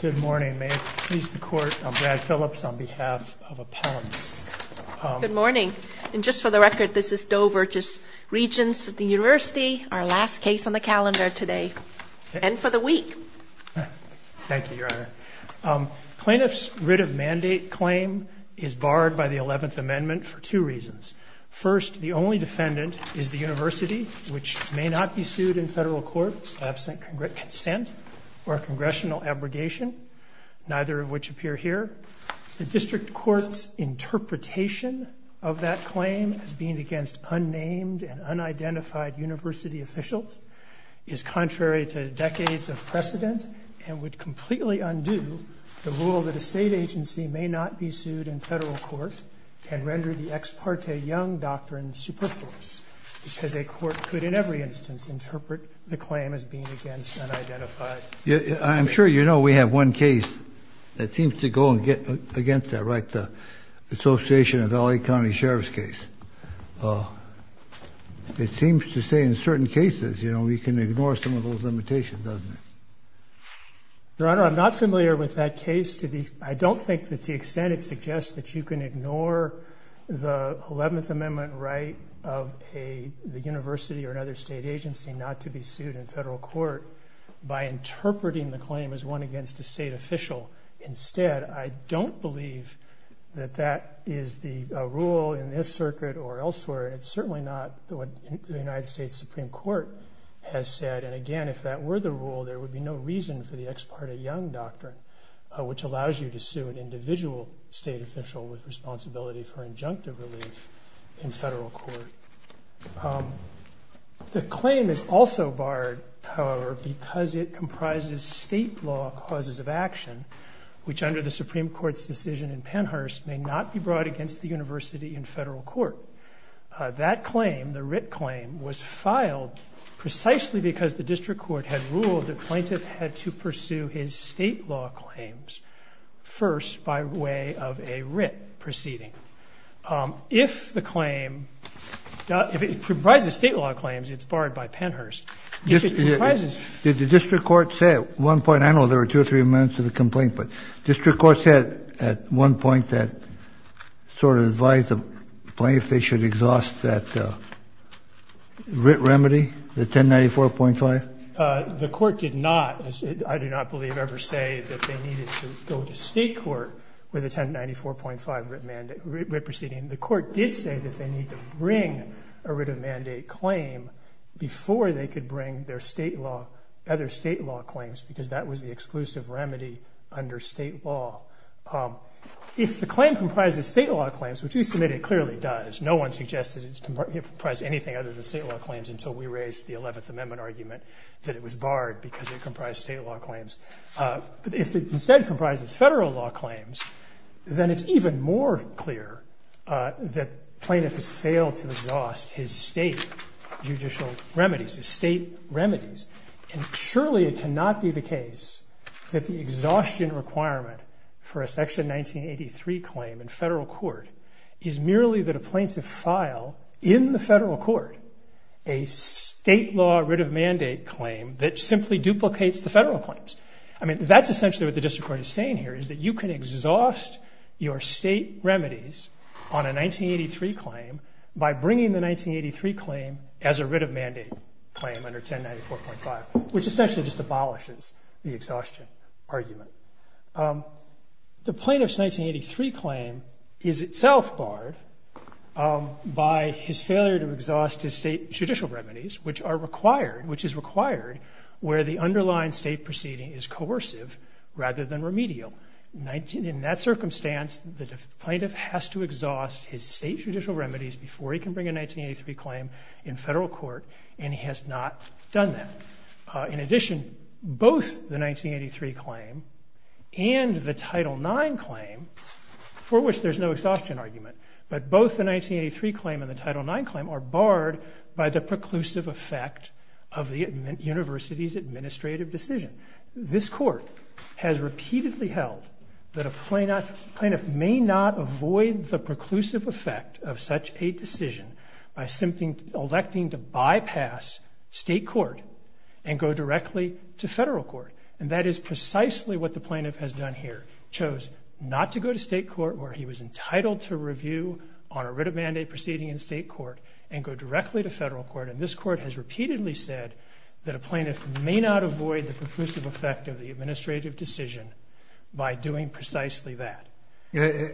Good morning. May it please the Court, I'm Brad Phillips on behalf of Appellants. Good morning. And just for the record, this is Doe v. Regents of the University, our last case on the calendar today, and for the week. Thank you, Your Honor. Plaintiff's writ of mandate claim is barred by the 11th Amendment for two reasons. First, the only defendant is the university, which may not be sued in federal court absent consent or congressional abrogation, neither of which appear here. The district court's interpretation of that claim as being against unnamed and unidentified university officials is contrary to decades of precedent and would completely undo the rule that a state agency may not be sued in federal court and render the Ex Parte Young Doctrine superfluous, because a court could in every instance interpret the claim as being against unidentified. I'm sure you know we have one case that seems to go against that, right, the Association of L.A. County Sheriffs case. It seems to say in certain cases, you know, we can ignore some of those limitations, doesn't it? Your Honor, I'm not familiar with that case. I don't think that to the extent it suggests that you can ignore the 11th Amendment right of a university or another state agency not to be sued in federal court by interpreting the claim as one against a state official. Instead, I don't believe that that is the rule in this circuit or elsewhere. It's certainly not what the United States Supreme Court has said. And again, if that were the rule, there would be no reason for the Ex Parte Young Doctrine, which allows you to sue an individual state official with responsibility for injunctive relief in federal court. The claim is also barred, however, because it comprises state law causes of action, which under the Supreme Court's decision in Pennhurst may not be brought against the university in federal court. That claim, the writ claim, was filed precisely because the District Court had ruled the plaintiff had to pursue his state law claims first by way of a writ proceeding. If the claim, if it comprises state law claims, it's barred by Pennhurst. If it comprises- Did the District Court say at one point, I know there were two or three amendments to the complaint, but District Court said at one point that sort of advised the plaintiff they should exhaust that writ remedy, the 1094.5? The court did not, I do not believe, ever say that they needed to go to state court with a 1094.5 writ proceeding. The court did say that they need to bring a writ of mandate claim before they could bring their state law, other state law claims, because that was the exclusive remedy under state law. If the claim comprises state law claims, which we submit it clearly does. No one suggested it comprises anything other than state law claims until we raised the 11th Amendment argument that it was barred because it comprised state law claims. If it instead comprises federal law claims, then it's even more clear that plaintiff has failed to exhaust his state judicial remedies, his state remedies, and surely it cannot be the case that the exhaustion requirement for a Section 1983 claim in federal court is merely that a plaintiff file in the federal court a state law writ of mandate claim that simply duplicates the federal claims. I mean, that's essentially what the District Court is saying here, is that you can exhaust your state remedies on a 1983 claim by bringing the 1983 claim as a writ of mandate claim under 1094.5, which essentially just abolishes the exhaustion argument. The plaintiff's 1983 claim is itself barred by his failure to exhaust his state judicial remedies, which is required where the underlying state proceeding is coercive rather than remedial. In that circumstance, the plaintiff has to exhaust his state judicial remedies before he can bring a 1983 claim in federal court, and he has not done that. In addition, both the 1983 claim and the Title IX claim, for which there's no exhaustion argument, but both the 1983 claim and the Title IX claim are barred by the preclusive effect of the university's administrative decision. This Court has repeatedly held that a plaintiff may not avoid the preclusive effect of such a decision by simply electing to bypass state court and go directly to federal court. And that is precisely what the plaintiff has done here, chose not to go to state court where he was entitled to review on a writ of mandate proceeding in state court and go directly to federal court. And this Court has repeatedly said that a plaintiff may not avoid the preclusive effect of the administrative decision by doing precisely that. I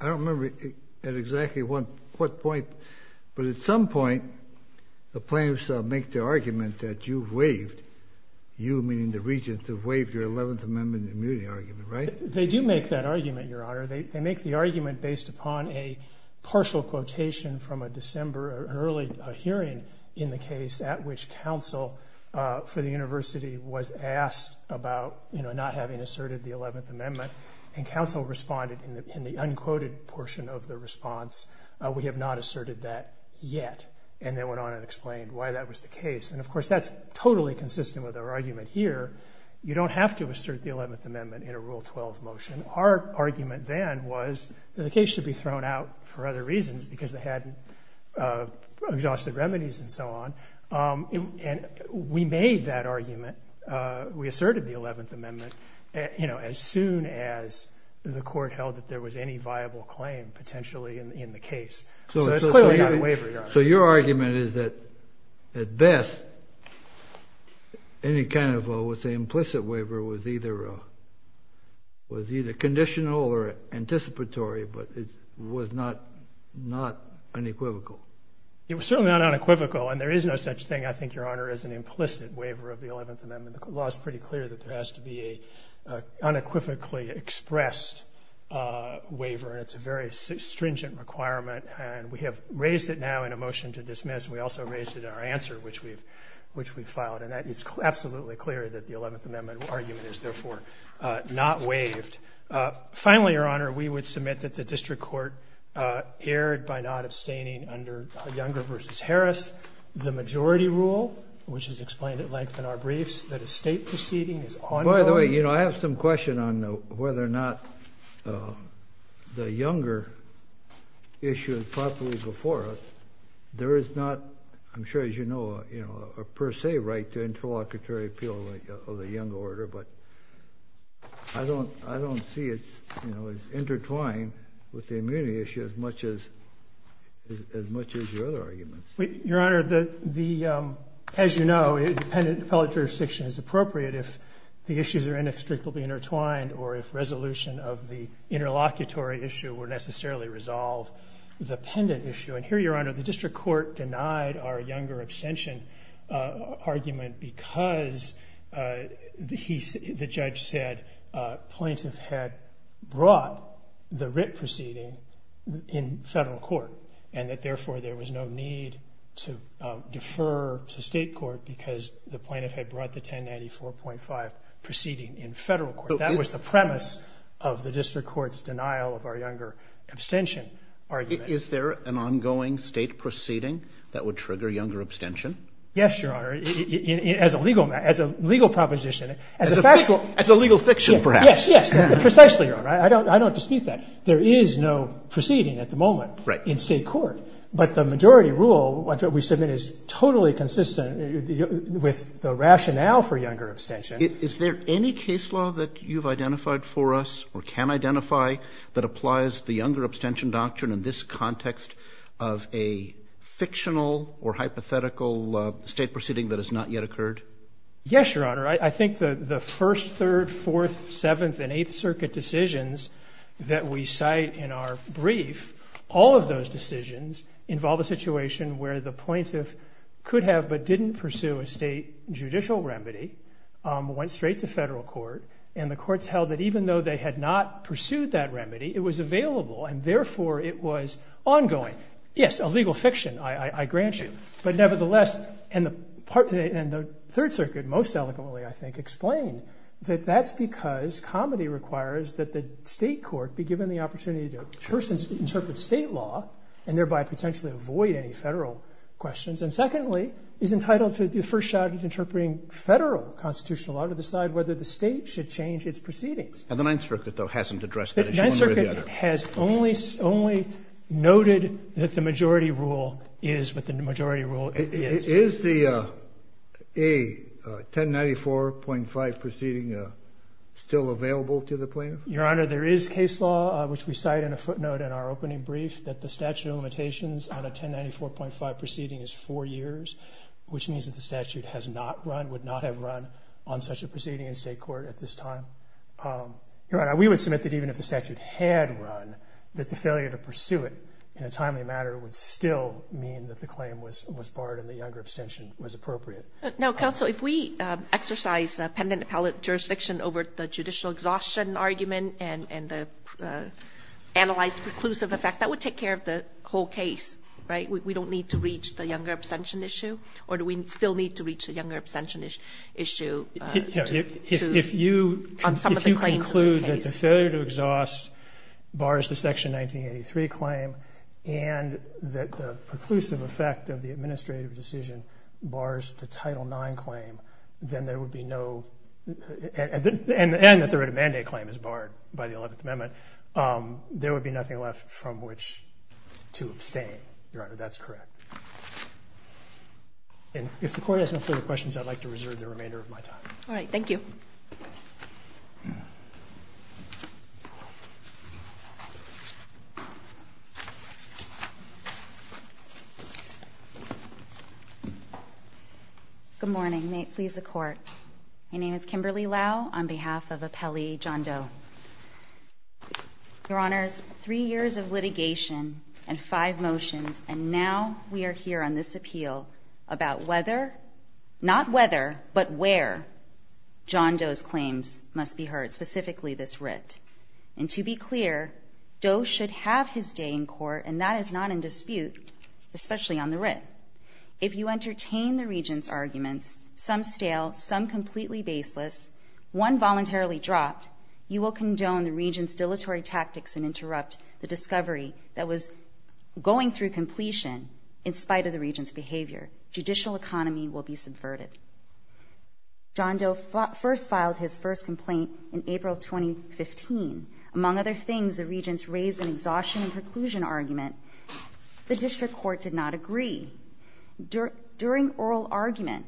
don't remember at exactly what point, but at some point the plaintiffs make the argument that you've waived, you meaning the regent, have waived your 11th Amendment immunity argument, right? They do make that argument, Your Honor. They make the argument based upon a partial quotation from a December, an early hearing in the case at which counsel for the university was asked about, you know, not having asserted the 11th Amendment. And counsel responded in the unquoted portion of the response, we have not asserted that yet. And they went on and explained why that was the case. And, of course, that's totally consistent with our argument here. You don't have to assert the 11th Amendment in a Rule 12 motion. Our argument then was that the case should be thrown out for other reasons because they hadn't exhausted remedies and so on. And we made that argument. We asserted the 11th Amendment, you know, as soon as the Court held that there was any viable claim potentially in the case. So it's clearly not a waiver, Your Honor. So your argument is that, at best, any kind of, let's say, implicit waiver was either conditional or anticipatory, but it was not unequivocal. It was certainly not unequivocal. And there is no such thing, I think, Your Honor, as an implicit waiver of the 11th Amendment. The law is pretty clear that there has to be an unequivocally expressed waiver. And it's a very stringent requirement. And we have raised it now in a motion to dismiss. We also raised it in our answer, which we filed. And that is absolutely clear that the 11th Amendment argument is, therefore, not waived. Finally, Your Honor, we would submit that the district court erred by not abstaining under Younger v. Harris. The majority rule, which is explained at length in our briefs, that a state proceeding is ongoing. By the way, I have some question on whether or not the Younger issue is properly before us. There is not, I'm sure as you know, a per se right to interlocutory appeal of the Younger order. But I don't see it as intertwined with the immunity issue as much as your other arguments. Your Honor, as you know, dependent appellate jurisdiction is appropriate if the issues are inextricably intertwined or if resolution of the interlocutory issue were necessarily resolved. The pendant issue, and here, Your Honor, the district court denied our Younger abstention argument because the judge said plaintiffs had brought the writ proceeding in federal court and that was the premise of the district court's denial of our Younger abstention argument. Is there an ongoing state proceeding that would trigger Younger abstention? Yes, Your Honor. As a legal proposition. As a legal fiction, perhaps. Yes, yes. Precisely, Your Honor. I don't dispute that. There is no proceeding at the moment in state court. Right. But the majority rule that we submit is totally consistent with the rationale for Younger abstention. Is there any case law that you've identified for us or can identify that applies to the Younger abstention doctrine in this context of a fictional or hypothetical state proceeding that has not yet occurred? Yes, Your Honor. I think the first, third, fourth, seventh, and eighth circuit decisions that we have involved a situation where the plaintiff could have but didn't pursue a state judicial remedy, went straight to federal court, and the courts held that even though they had not pursued that remedy, it was available and therefore it was ongoing. Yes, a legal fiction, I grant you. But nevertheless, and the third circuit most eloquently, I think, explained that that's because comedy requires that the state court be given the opportunity to first interpret state law and thereby potentially avoid any federal questions. And secondly, is entitled to the first shot at interpreting federal constitutional law to decide whether the state should change its proceedings. And the Ninth Circuit, though, hasn't addressed that issue one way or the other. The Ninth Circuit has only noted that the majority rule is what the majority rule is. Is the 1094.5 proceeding still available to the plaintiff? Your Honor, there is case law, which we cite in a footnote in our opening brief, that the statute of limitations on a 1094.5 proceeding is four years, which means that the statute has not run, would not have run, on such a proceeding in state court at this time. Your Honor, we would submit that even if the statute had run, that the failure to pursue it in a timely manner would still mean that the claim was barred and the younger abstention was appropriate. Now, counsel, if we exercise the pendent appellate jurisdiction over the judicial exhaustion argument and the analyzed preclusive effect, that would take care of the whole case, right? We don't need to reach the younger abstention issue? Or do we still need to reach the younger abstention issue on some of the claims in this case? If you conclude that the failure to exhaust bars the Section 1983 claim and that the preclusive effect of the administrative decision bars the Title IX claim, then there would be no, and that the writ of mandate claim is barred by the Eleventh Amendment, there would be nothing left from which to abstain. Your Honor, that's correct. And if the Court has no further questions, I'd like to reserve the remainder of my time. All right. Thank you. Good morning. May it please the Court. My name is Kimberly Lau on behalf of Appellee John Doe. Your Honors, three years of litigation and five motions, and now we are here on this appeal about whether, not whether, but where John Doe's claims must be heard, specifically this writ. And to be clear, Doe should have his day in court, and that is not in dispute, especially on the writ. However, if you entertain the Regents' arguments, some stale, some completely baseless, one voluntarily dropped, you will condone the Regents' dilatory tactics and interrupt the discovery that was going through completion in spite of the Regents' behavior. Judicial economy will be subverted. John Doe first filed his first complaint in April 2015. Among other things, the Regents raised an exhaustion and preclusion argument. The district court did not agree. During oral argument,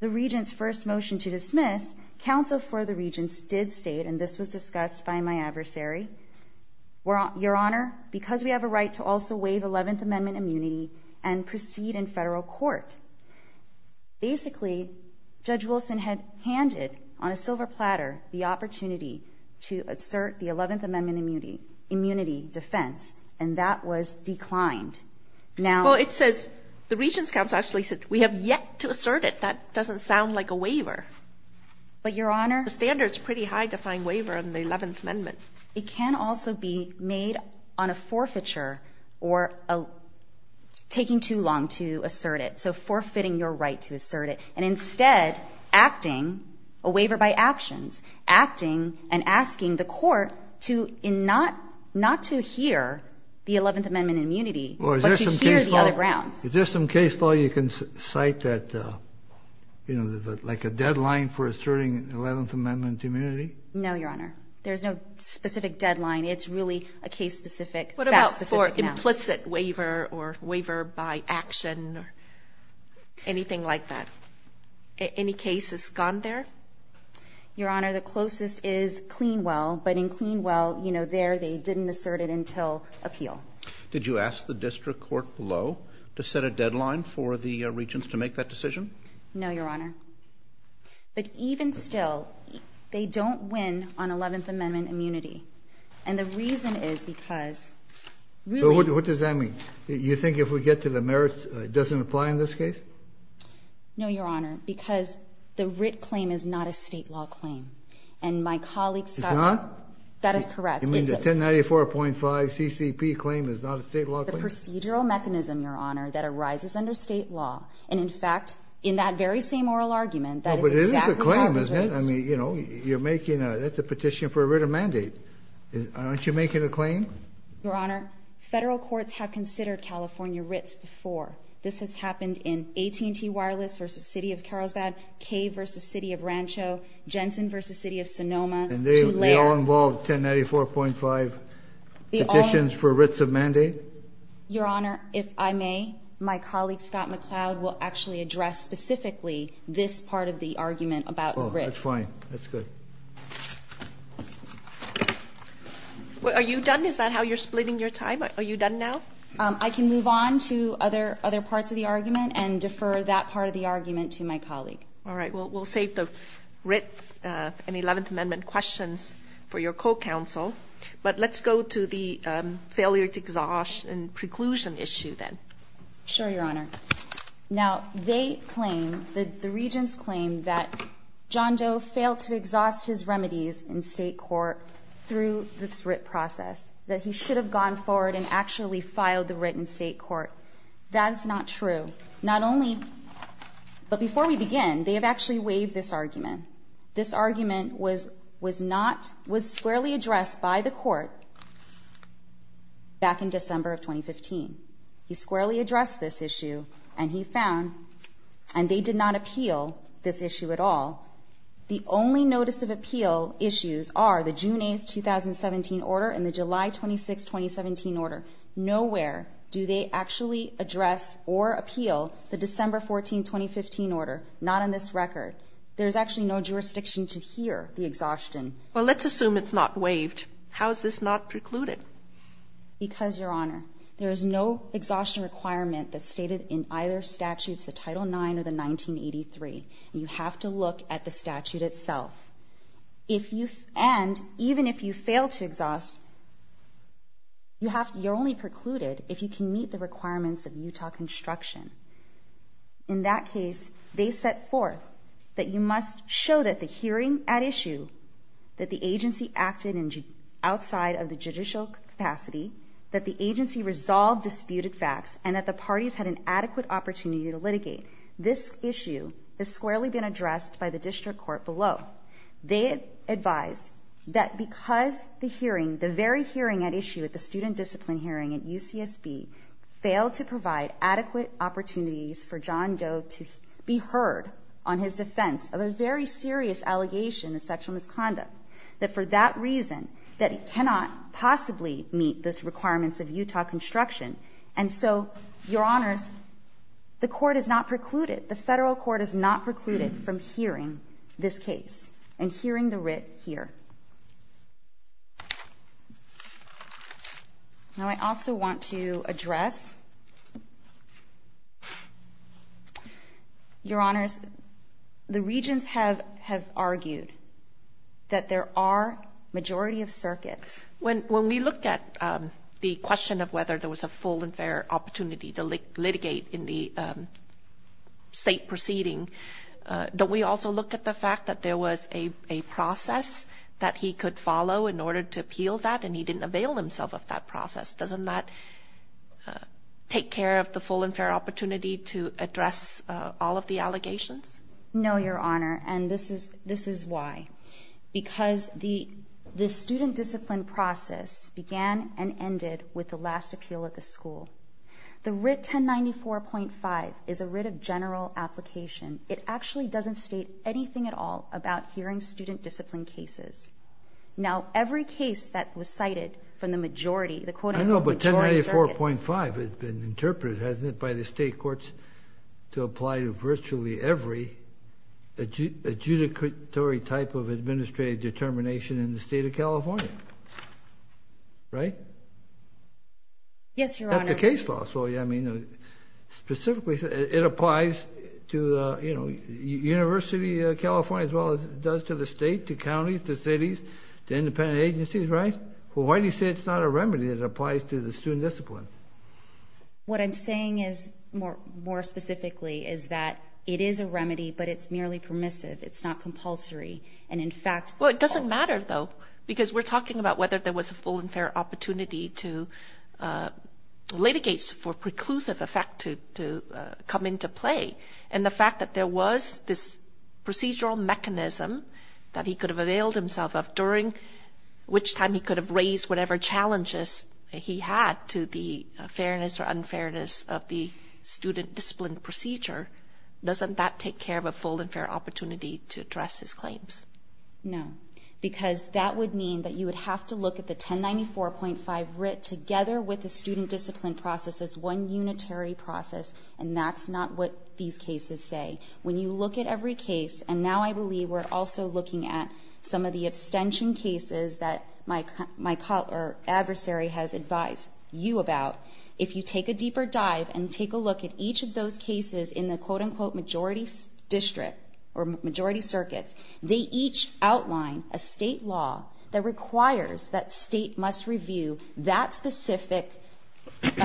the Regents' first motion to dismiss, counsel for the Regents did state, and this was discussed by my adversary, Your Honor, because we have a right to also waive 11th Amendment immunity and proceed in federal court. Basically, Judge Wilson had handed on a silver platter the opportunity to assert the 11th Amendment immunity defense, and that was declined. Now ---- Well, it says the Regents' counsel actually said, we have yet to assert it. That doesn't sound like a waiver. But, Your Honor ---- The standard is pretty high to find waiver in the 11th Amendment. It can also be made on a forfeiture or taking too long to assert it, so forfeiting your right to assert it. And instead, acting, a waiver by actions, acting and asking the court to not to hear the 11th Amendment immunity, but to hear the other grounds. Is there some case law you can cite that, you know, like a deadline for asserting 11th Amendment immunity? No, Your Honor. There's no specific deadline. It's really a case-specific, fact-specific now. What about for implicit waiver or waiver by action or anything like that? Any cases gone there? Your Honor, the closest is Clean Well, but in Clean Well, you know, there they didn't assert it until appeal. Did you ask the district court below to set a deadline for the Regents to make that decision? No, Your Honor. But even still, they don't win on 11th Amendment immunity. And the reason is because ---- What does that mean? You think if we get to the merits, it doesn't apply in this case? No, Your Honor, because the writ claim is not a state law claim. And my colleagues ---- It's not? That is correct. You mean the 1094.5 CCP claim is not a state law claim? The procedural mechanism, Your Honor, that arises under state law, and in fact, in that very same oral argument, that is exactly how it was raised. Well, but it is a claim, isn't it? I mean, you know, you're making a petition for a writ of mandate. Aren't you making a claim? Your Honor, federal courts have considered California writs before. This has happened in AT&T Wireless v. City of Carlsbad, K v. City of Rancho, Jensen v. City of Sonoma. And they all involved 1094.5 petitions for writs of mandate? Your Honor, if I may, my colleague Scott McCloud will actually address specifically this part of the argument about writs. Oh, that's fine. That's good. Are you done? Is that how you're splitting your time? Are you done now? I can move on to other parts of the argument and defer that part of the argument to my colleague. All right. Well, we'll save the writ and 11th Amendment questions for your co-counsel. But let's go to the failure to exhaust and preclusion issue then. Sure, Your Honor. Now, they claim, the regents claim, that John Doe failed to exhaust his remedies in state court through this writ process, that he should have gone forward and actually filed the writ in state court. That is not true. Not only, but before we begin, they have actually waived this argument. This argument was squarely addressed by the court back in December of 2015. He squarely addressed this issue, and he found, and they did not appeal this issue at all. The only notice of appeal issues are the June 8, 2017 order and the July 26, 2017 order. Nowhere do they actually address or appeal the December 14, 2015 order. Not in this record. There's actually no jurisdiction to hear the exhaustion. Well, let's assume it's not waived. How is this not precluded? Because, Your Honor, there is no exhaustion requirement that's stated in either statutes, the Title IX or the 1983. You have to look at the statute itself. And even if you fail to exhaust, you're only precluded if you can meet the requirements of Utah construction. In that case, they set forth that you must show that the hearing at issue, that the agency acted outside of the judicial capacity, that the agency resolved disputed facts, and that the parties had an adequate opportunity to litigate. This issue has squarely been addressed by the district court below. They advised that because the hearing, the very hearing at issue at the student discipline hearing at UCSB, failed to provide adequate opportunities for John Doe to be heard on his defense of a very serious allegation of sexual misconduct, that for that reason, that he cannot possibly meet the requirements of Utah construction. And so, Your Honors, the court is not precluded, the federal court is not precluded from hearing this case and hearing the writ here. Now I also want to address, Your Honors, the regents have argued that there are majority of circuits. When we look at the question of whether there was a full and fair opportunity to litigate in the state proceeding, don't we also look at the fact that there was a process that he could follow in order to appeal that and he didn't avail himself of that process? Doesn't that take care of the full and fair opportunity to address all of the allegations? No, Your Honor, and this is why. Because the student discipline process began and ended with the last appeal at the school. The writ 1094.5 is a writ of general application. It actually doesn't state anything at all about hearing student discipline cases. Now every case that was cited from the majority, the quote unquote majority of circuits... I know, but 1094.5 has been interpreted, hasn't it, by the state courts to apply to virtually every adjudicatory type of administrative determination in the state of California. Right? Yes, Your Honor. That's a case law. Specifically, it applies to University of California as well as it does to the state, to counties, to cities, to independent agencies, right? Well, why do you say it's not a remedy? It applies to the student discipline. What I'm saying is, more specifically, is that it is a remedy, but it's merely permissive. It's not compulsory, and in fact... Well, it doesn't matter, though, because we're talking about whether there was a full and fair opportunity to litigate for preclusive effect to come into play. And the fact that there was this procedural mechanism that he could have availed himself of during which time he could have raised whatever challenges he had to the fairness or unfairness of the student discipline procedure, doesn't that take care of a full and fair opportunity to address his claims? No, because that would mean that you would have to look at the 1094.5 writ together with the student discipline process as one unitary process, and that's not what these cases say. When you look at every case, and now I believe we're also looking at some of the abstention cases that my adversary has advised you about, if you take a deeper dive and take a look at each of those cases in the quote-unquote majority district or majority circuits, they each outline a state law that requires that state must review that specific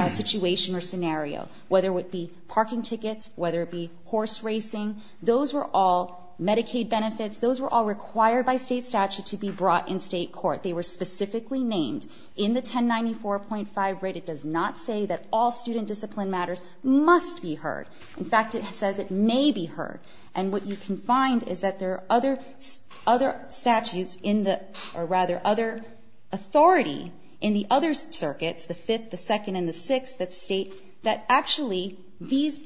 situation or scenario, whether it be parking tickets, whether it be horse racing. Those were all Medicaid benefits. Those were all required by state statute to be brought in state court. They were specifically named in the 1094.5 writ. It does not say that all student discipline matters must be heard. In fact, it says it may be heard. And what you can find is that there are other statutes in the, or rather, other authority in the other circuits, the fifth, the second, and the sixth, that actually these,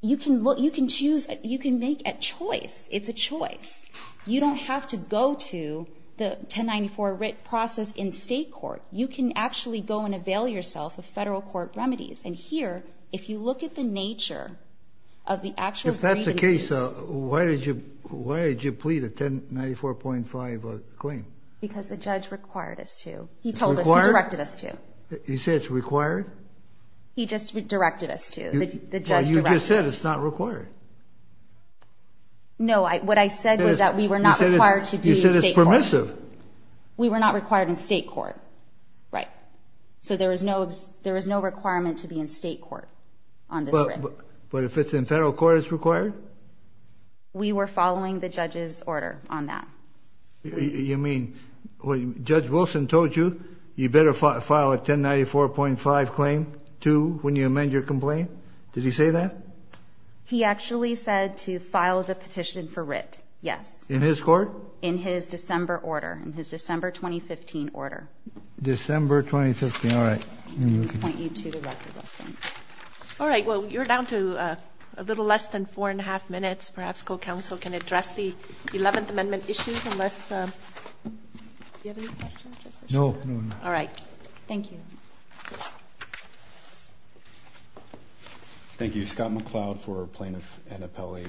you can choose, you can make a choice. It's a choice. You don't have to go to the 1094 writ process in state court. You can actually go and avail yourself of federal court remedies. And here, if you look at the nature of the actual grievances. If that's the case, why did you plead a 1094.5 claim? Because the judge required us to. He told us. He directed us to. He said it's required? He just directed us to. Well, you just said it's not required. No, what I said was that we were not required to be in state court. You said it's permissive. We were not required in state court. Right. So there was no requirement to be in state court on this writ. But if it's in federal court, it's required? We were following the judge's order on that. You mean, Judge Wilson told you, you better file a 1094.5 claim too when you amend your complaint? Did he say that? He actually said to file the petition for writ, yes. In his court? In his December order, in his December 2015 order. December 2015, all right. Point you to the record reference. All right. Well, you're down to a little less than four and a half minutes. Perhaps co-counsel can address the 11th Amendment issues unless you have any questions? No. All right. Thank you. Thank you. Scott McCloud for Plaintiff and Appellee.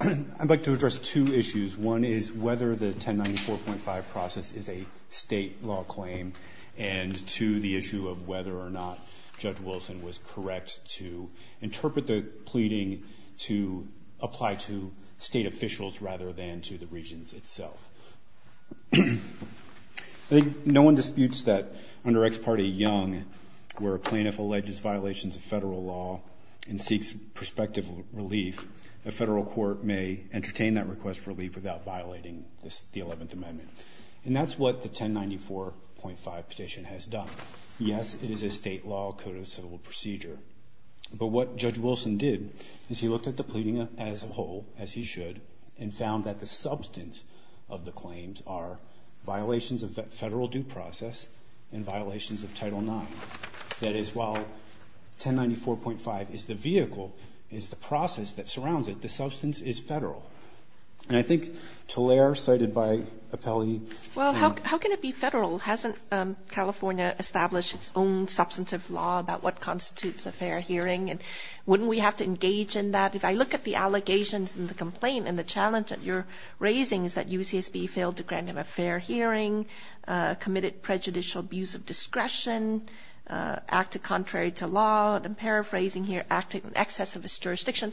I'd like to address two issues. One is whether the 1094.5 process is a state law claim, and two, the issue of whether or not Judge Wilson was correct to interpret the pleading to apply to state officials rather than to the regions itself. I think no one disputes that under Ex Parte Young, where a plaintiff alleges violations of federal law and seeks prospective relief, a federal court may entertain that request for relief without violating the 11th Amendment. And that's what the 1094.5 petition has done. Yes, it is a state law code of civil procedure. But what Judge Wilson did is he looked at the pleading as a whole, as he should, and found that the substance of the claims are violations of federal due process and violations of Title IX. That is, while 1094.5 is the vehicle, is the process that surrounds it, the substance is federal. And I think Talair, cited by Appellee. Well, how can it be federal? Hasn't California established its own substantive law about what constitutes a fair hearing? And wouldn't we have to engage in that? If I look at the allegations and the complaint and the challenge that you're raising is that UCSB failed to grant him a fair hearing, committed prejudicial abuse of discretion, acted contrary to law, and I'm paraphrasing here, acted in excess of his jurisdiction,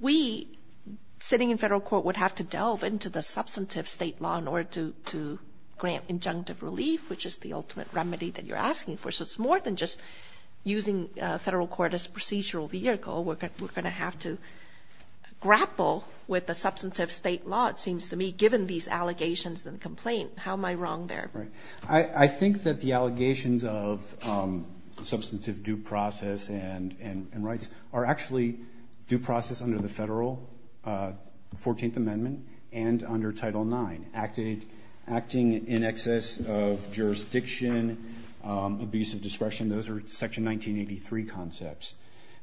we, sitting in federal court, would have to delve into the substantive state law in order to grant injunctive relief, which is the ultimate remedy that you're asking for. So it's more than just using federal court as a procedural vehicle. We're going to have to grapple with the substantive state law, it seems to me, given these allegations and complaint. How am I wrong there? Right. I think that the allegations of substantive due process and rights are actually due process under the federal 14th Amendment and under Title IX. Acting in excess of jurisdiction, abuse of discretion, those are Section 1983 concepts.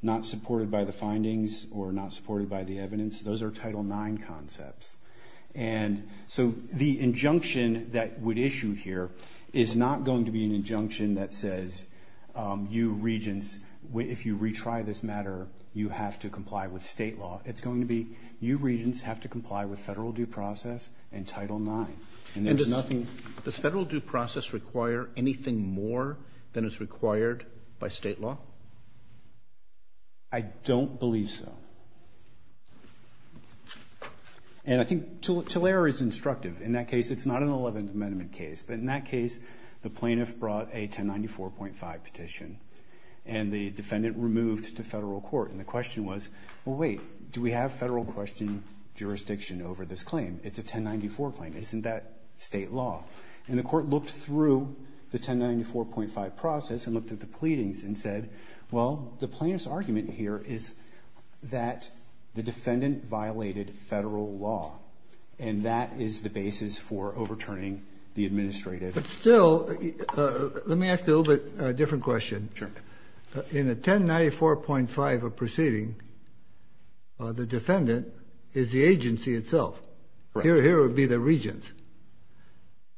Not supported by the findings or not supported by the evidence, those are Title IX concepts. And so the injunction that would issue here is not going to be an injunction that says, you regents, if you retry this matter, you have to comply with state law. It's going to be you regents have to comply with federal due process and Title IX. Does federal due process require anything more than is required by state law? I don't believe so. And I think Tulare is instructive. In that case, it's not an 11th Amendment case. But in that case, the plaintiff brought a 1094.5 petition. And the defendant removed to federal court. And the question was, well, wait, do we have federal question jurisdiction over this claim? It's a 1094 claim. Isn't that state law? And the court looked through the 1094.5 process and looked at the pleadings and said, well, the plaintiff's argument here is that the defendant violated federal law. And that is the basis for overturning the administrative. But still, let me ask a little bit different question. Sure. In a 1094.5 proceeding, the defendant is the agency itself. Here would be the regents.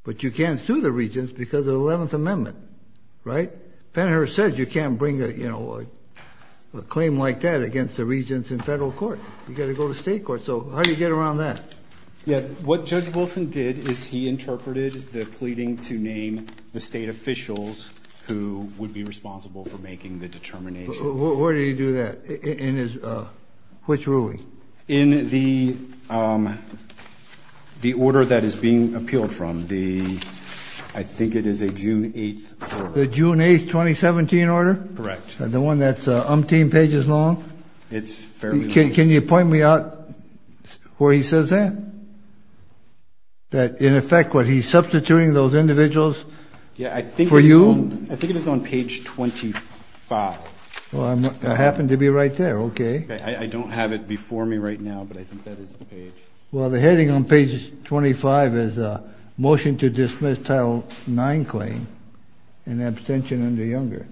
But you can't sue the regents because of the 11th Amendment. Right? Penher says you can't bring a claim like that against the regents in federal court. You've got to go to state court. So how do you get around that? What Judge Wilson did is he interpreted the pleading to name the state officials who would be responsible for making the determination. Where did he do that? Which ruling? In the order that is being appealed from. I think it is a June 8th order. The June 8th, 2017 order? Correct. The one that's umpteen pages long? It's fairly long. Can you point me out where he says that? That in effect what he's substituting those individuals for you? I think it is on page 25. I happen to be right there. Okay. I don't have it before me right now, but I think that is the page. Well, the heading on page 25 is Motion to Dismiss Title IX Claim in Abstention under Younger.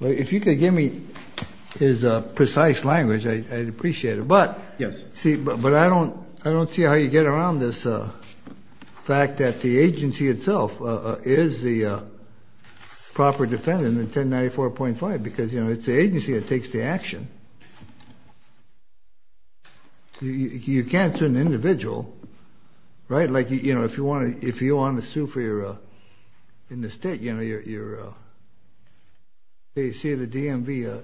If you could give me his precise language, I'd appreciate it. But I don't see how you get around this fact that the agency itself is the proper defendant in 1094.5 because, you know, it's the agency that takes the action. You can't sue an individual, right? Like, you know, if you want to sue in the state, you know, you see the DMV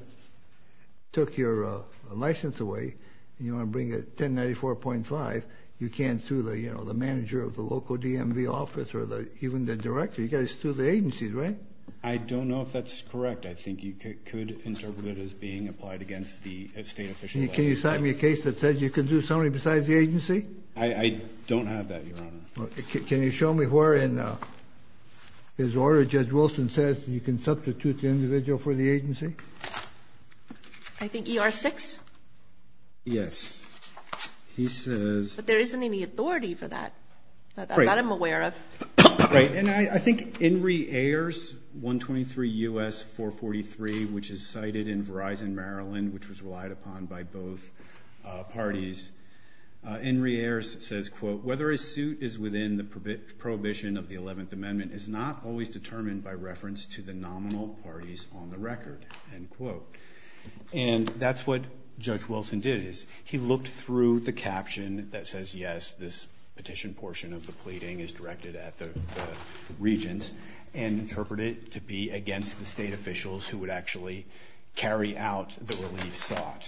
took your license away and you want to bring a 1094.5, you can't sue the manager of the local DMV office or even the director. You've got to sue the agencies, right? I don't know if that's correct. I think you could interpret it as being applied against the state official. Can you sign me a case that says you can do something besides the agency? I don't have that, Your Honor. Can you show me where in his order Judge Wilson says you can substitute the individual for the agency? I think ER6? Yes. He says. But there isn't any authority for that, that I'm aware of. Right. And I think Henry Ayers, 123 U.S. 443, which is cited in Verizon Maryland, which was relied upon by both parties, Henry Ayers says, quote, whether a suit is within the prohibition of the 11th Amendment is not always determined by reference to the nominal parties on the record, end quote. And that's what Judge Wilson did is he looked through the caption that says, yes, this petition portion of the pleading is directed at the regents and interpreted it to be against the state officials who would actually carry out the relief sought.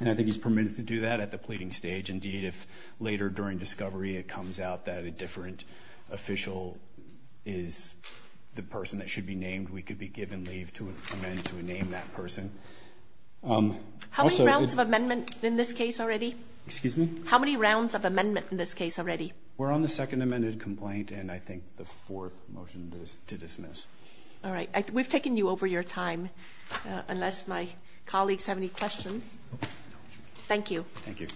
And I think he's permitted to do that at the pleading stage. Indeed, if later during discovery it comes out that a different official is the person that should be named, we could be given leave to amend to rename that person. How many rounds of amendment in this case already? Excuse me? How many rounds of amendment in this case already? We're on the second amended complaint and I think the fourth motion to dismiss. All right. We've taken you over your time, unless my colleagues have any questions. Thank you. Thank you.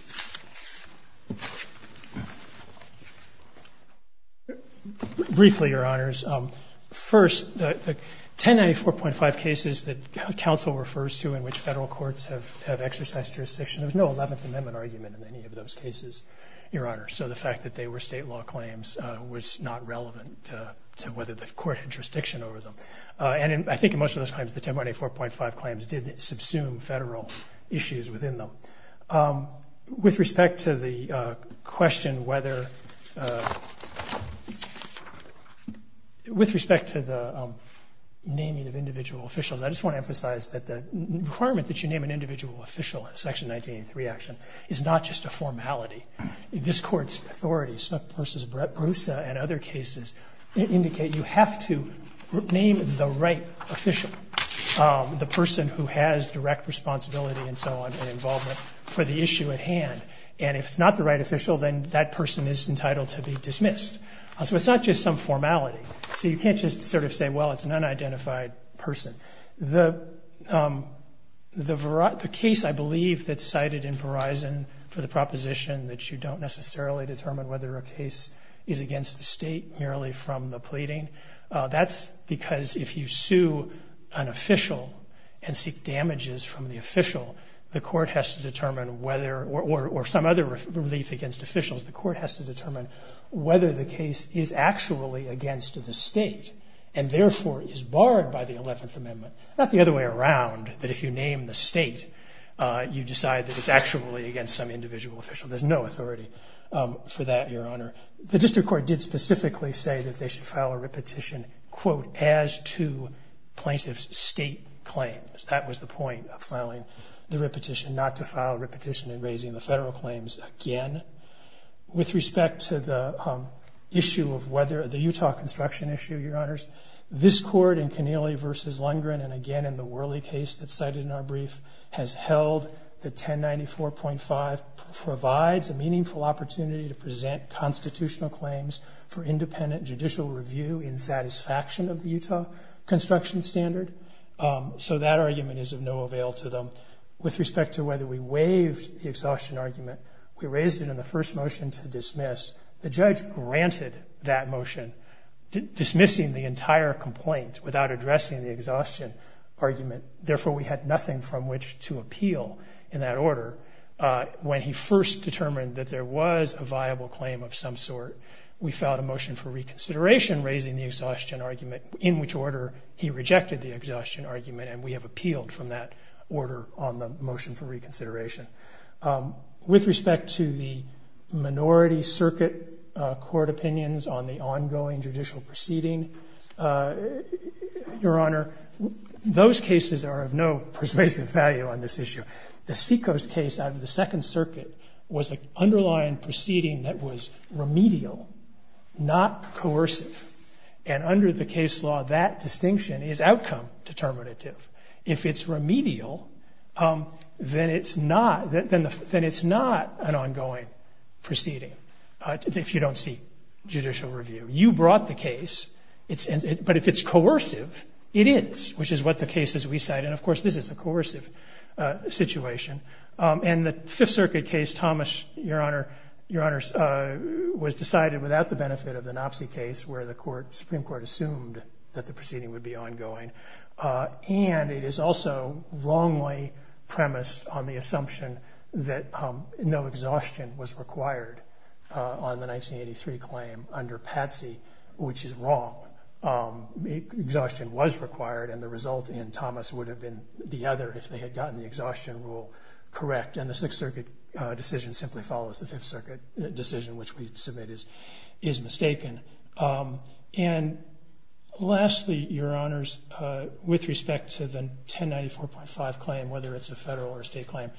Briefly, Your Honors, first, the 1094.5 cases that counsel refers to in which Federal courts have exercised jurisdiction, there was no 11th Amendment argument in any of those cases, Your Honors. So the fact that they were state law claims was not relevant to whether the court had jurisdiction over them. And I think in most of those claims, the 1094.5 claims did subsume Federal issues within them. With respect to the question whether, with respect to the naming of individual officials, I just want to emphasize that the requirement that you name an individual official in a Section 1983 action is not just a formality. This Court's authority, Snook versus Brusa and other cases, indicate you have to name the right official, the person who has direct responsibility and so on and involvement for the issue at hand. And if it's not the right official, then that person is entitled to be dismissed. So it's not just some formality. So you can't just sort of say, well, it's an unidentified person. The case, I believe, that's cited in Verizon for the proposition that you don't necessarily determine whether a case is against the State merely from the pleading, that's because if you sue an official and seek damages from the official, the Court has to determine whether, or some other relief against officials, the Court has to determine whether the case is actually against the State and therefore is barred by the Eleventh Amendment. Not the other way around, that if you name the State, you decide that it's actually against some individual official. There's no authority for that, Your Honor. The District Court did specifically say that they should file a repetition, quote, as to plaintiff's State claims. That was the point of filing the repetition, not to file a repetition in raising the federal claims again. With respect to the issue of whether the Utah construction issue, Your Honors, this Court in Kennealy v. Lundgren, and again in the Worley case that's cited in our brief, has held that 1094.5 provides a meaningful opportunity to present constitutional claims for independent judicial review in satisfaction of the Utah construction standard. So that argument is of no avail to them. With respect to whether we waived the exhaustion argument, we raised it in the first motion to dismiss. The judge granted that motion, dismissing the entire complaint without addressing the exhaustion argument. Therefore, we had nothing from which to appeal in that order. When he first determined that there was a viable claim of some sort, we filed a motion for reconsideration raising the exhaustion argument, in which order he rejected the exhaustion argument, and we have appealed from that order on the motion for reconsideration. With respect to the minority circuit court opinions on the ongoing judicial proceeding, Your Honor, those cases are of no persuasive value on this issue. The Secos case out of the Second Circuit was an underlying proceeding that was remedial, not coercive. And under the case law, that distinction is outcome determinative. If it's remedial, then it's not an ongoing proceeding, if you don't seek judicial review. You brought the case, but if it's coercive, it is, which is what the cases we cite. And, of course, this is a coercive situation. And the Fifth Circuit case, Thomas, Your Honor, was decided without the benefit of the Knopsey case, where the Supreme Court assumed that the proceeding would be ongoing. And it is also wrongly premised on the assumption that no exhaustion was required on the 1983 claim under Patsey, which is wrong. Exhaustion was required, and the result in Thomas would have been the other if they had gotten the exhaustion rule correct. And the Sixth Circuit decision simply follows the Fifth Circuit decision, which we submit is mistaken. And, lastly, Your Honors, with respect to the 1094.5 claim, whether it's a Federal or a State claim,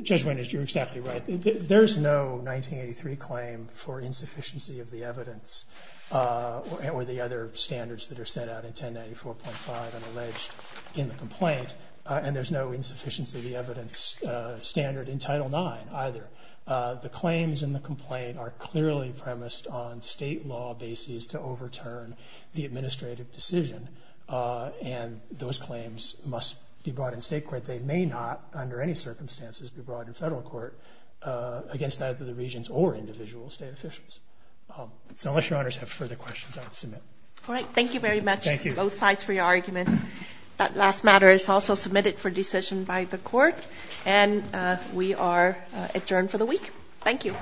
Judge Winters, you're exactly right. There's no 1983 claim for insufficiency of the evidence or the other standards that are set out in 1094.5 and alleged in the complaint. And there's no insufficiency of the evidence standard in Title IX either. The claims in the complaint are clearly premised on State law bases to overturn the administrative decision. And those claims must be brought in State court. They may not, under any circumstances, be brought in Federal court against either the regions or individual State officials. So unless Your Honors have further questions, I'll submit. All right. Thank you very much on both sides for your arguments. That last matter is also submitted for decision by the Court. And we are adjourned for the week. Thank you.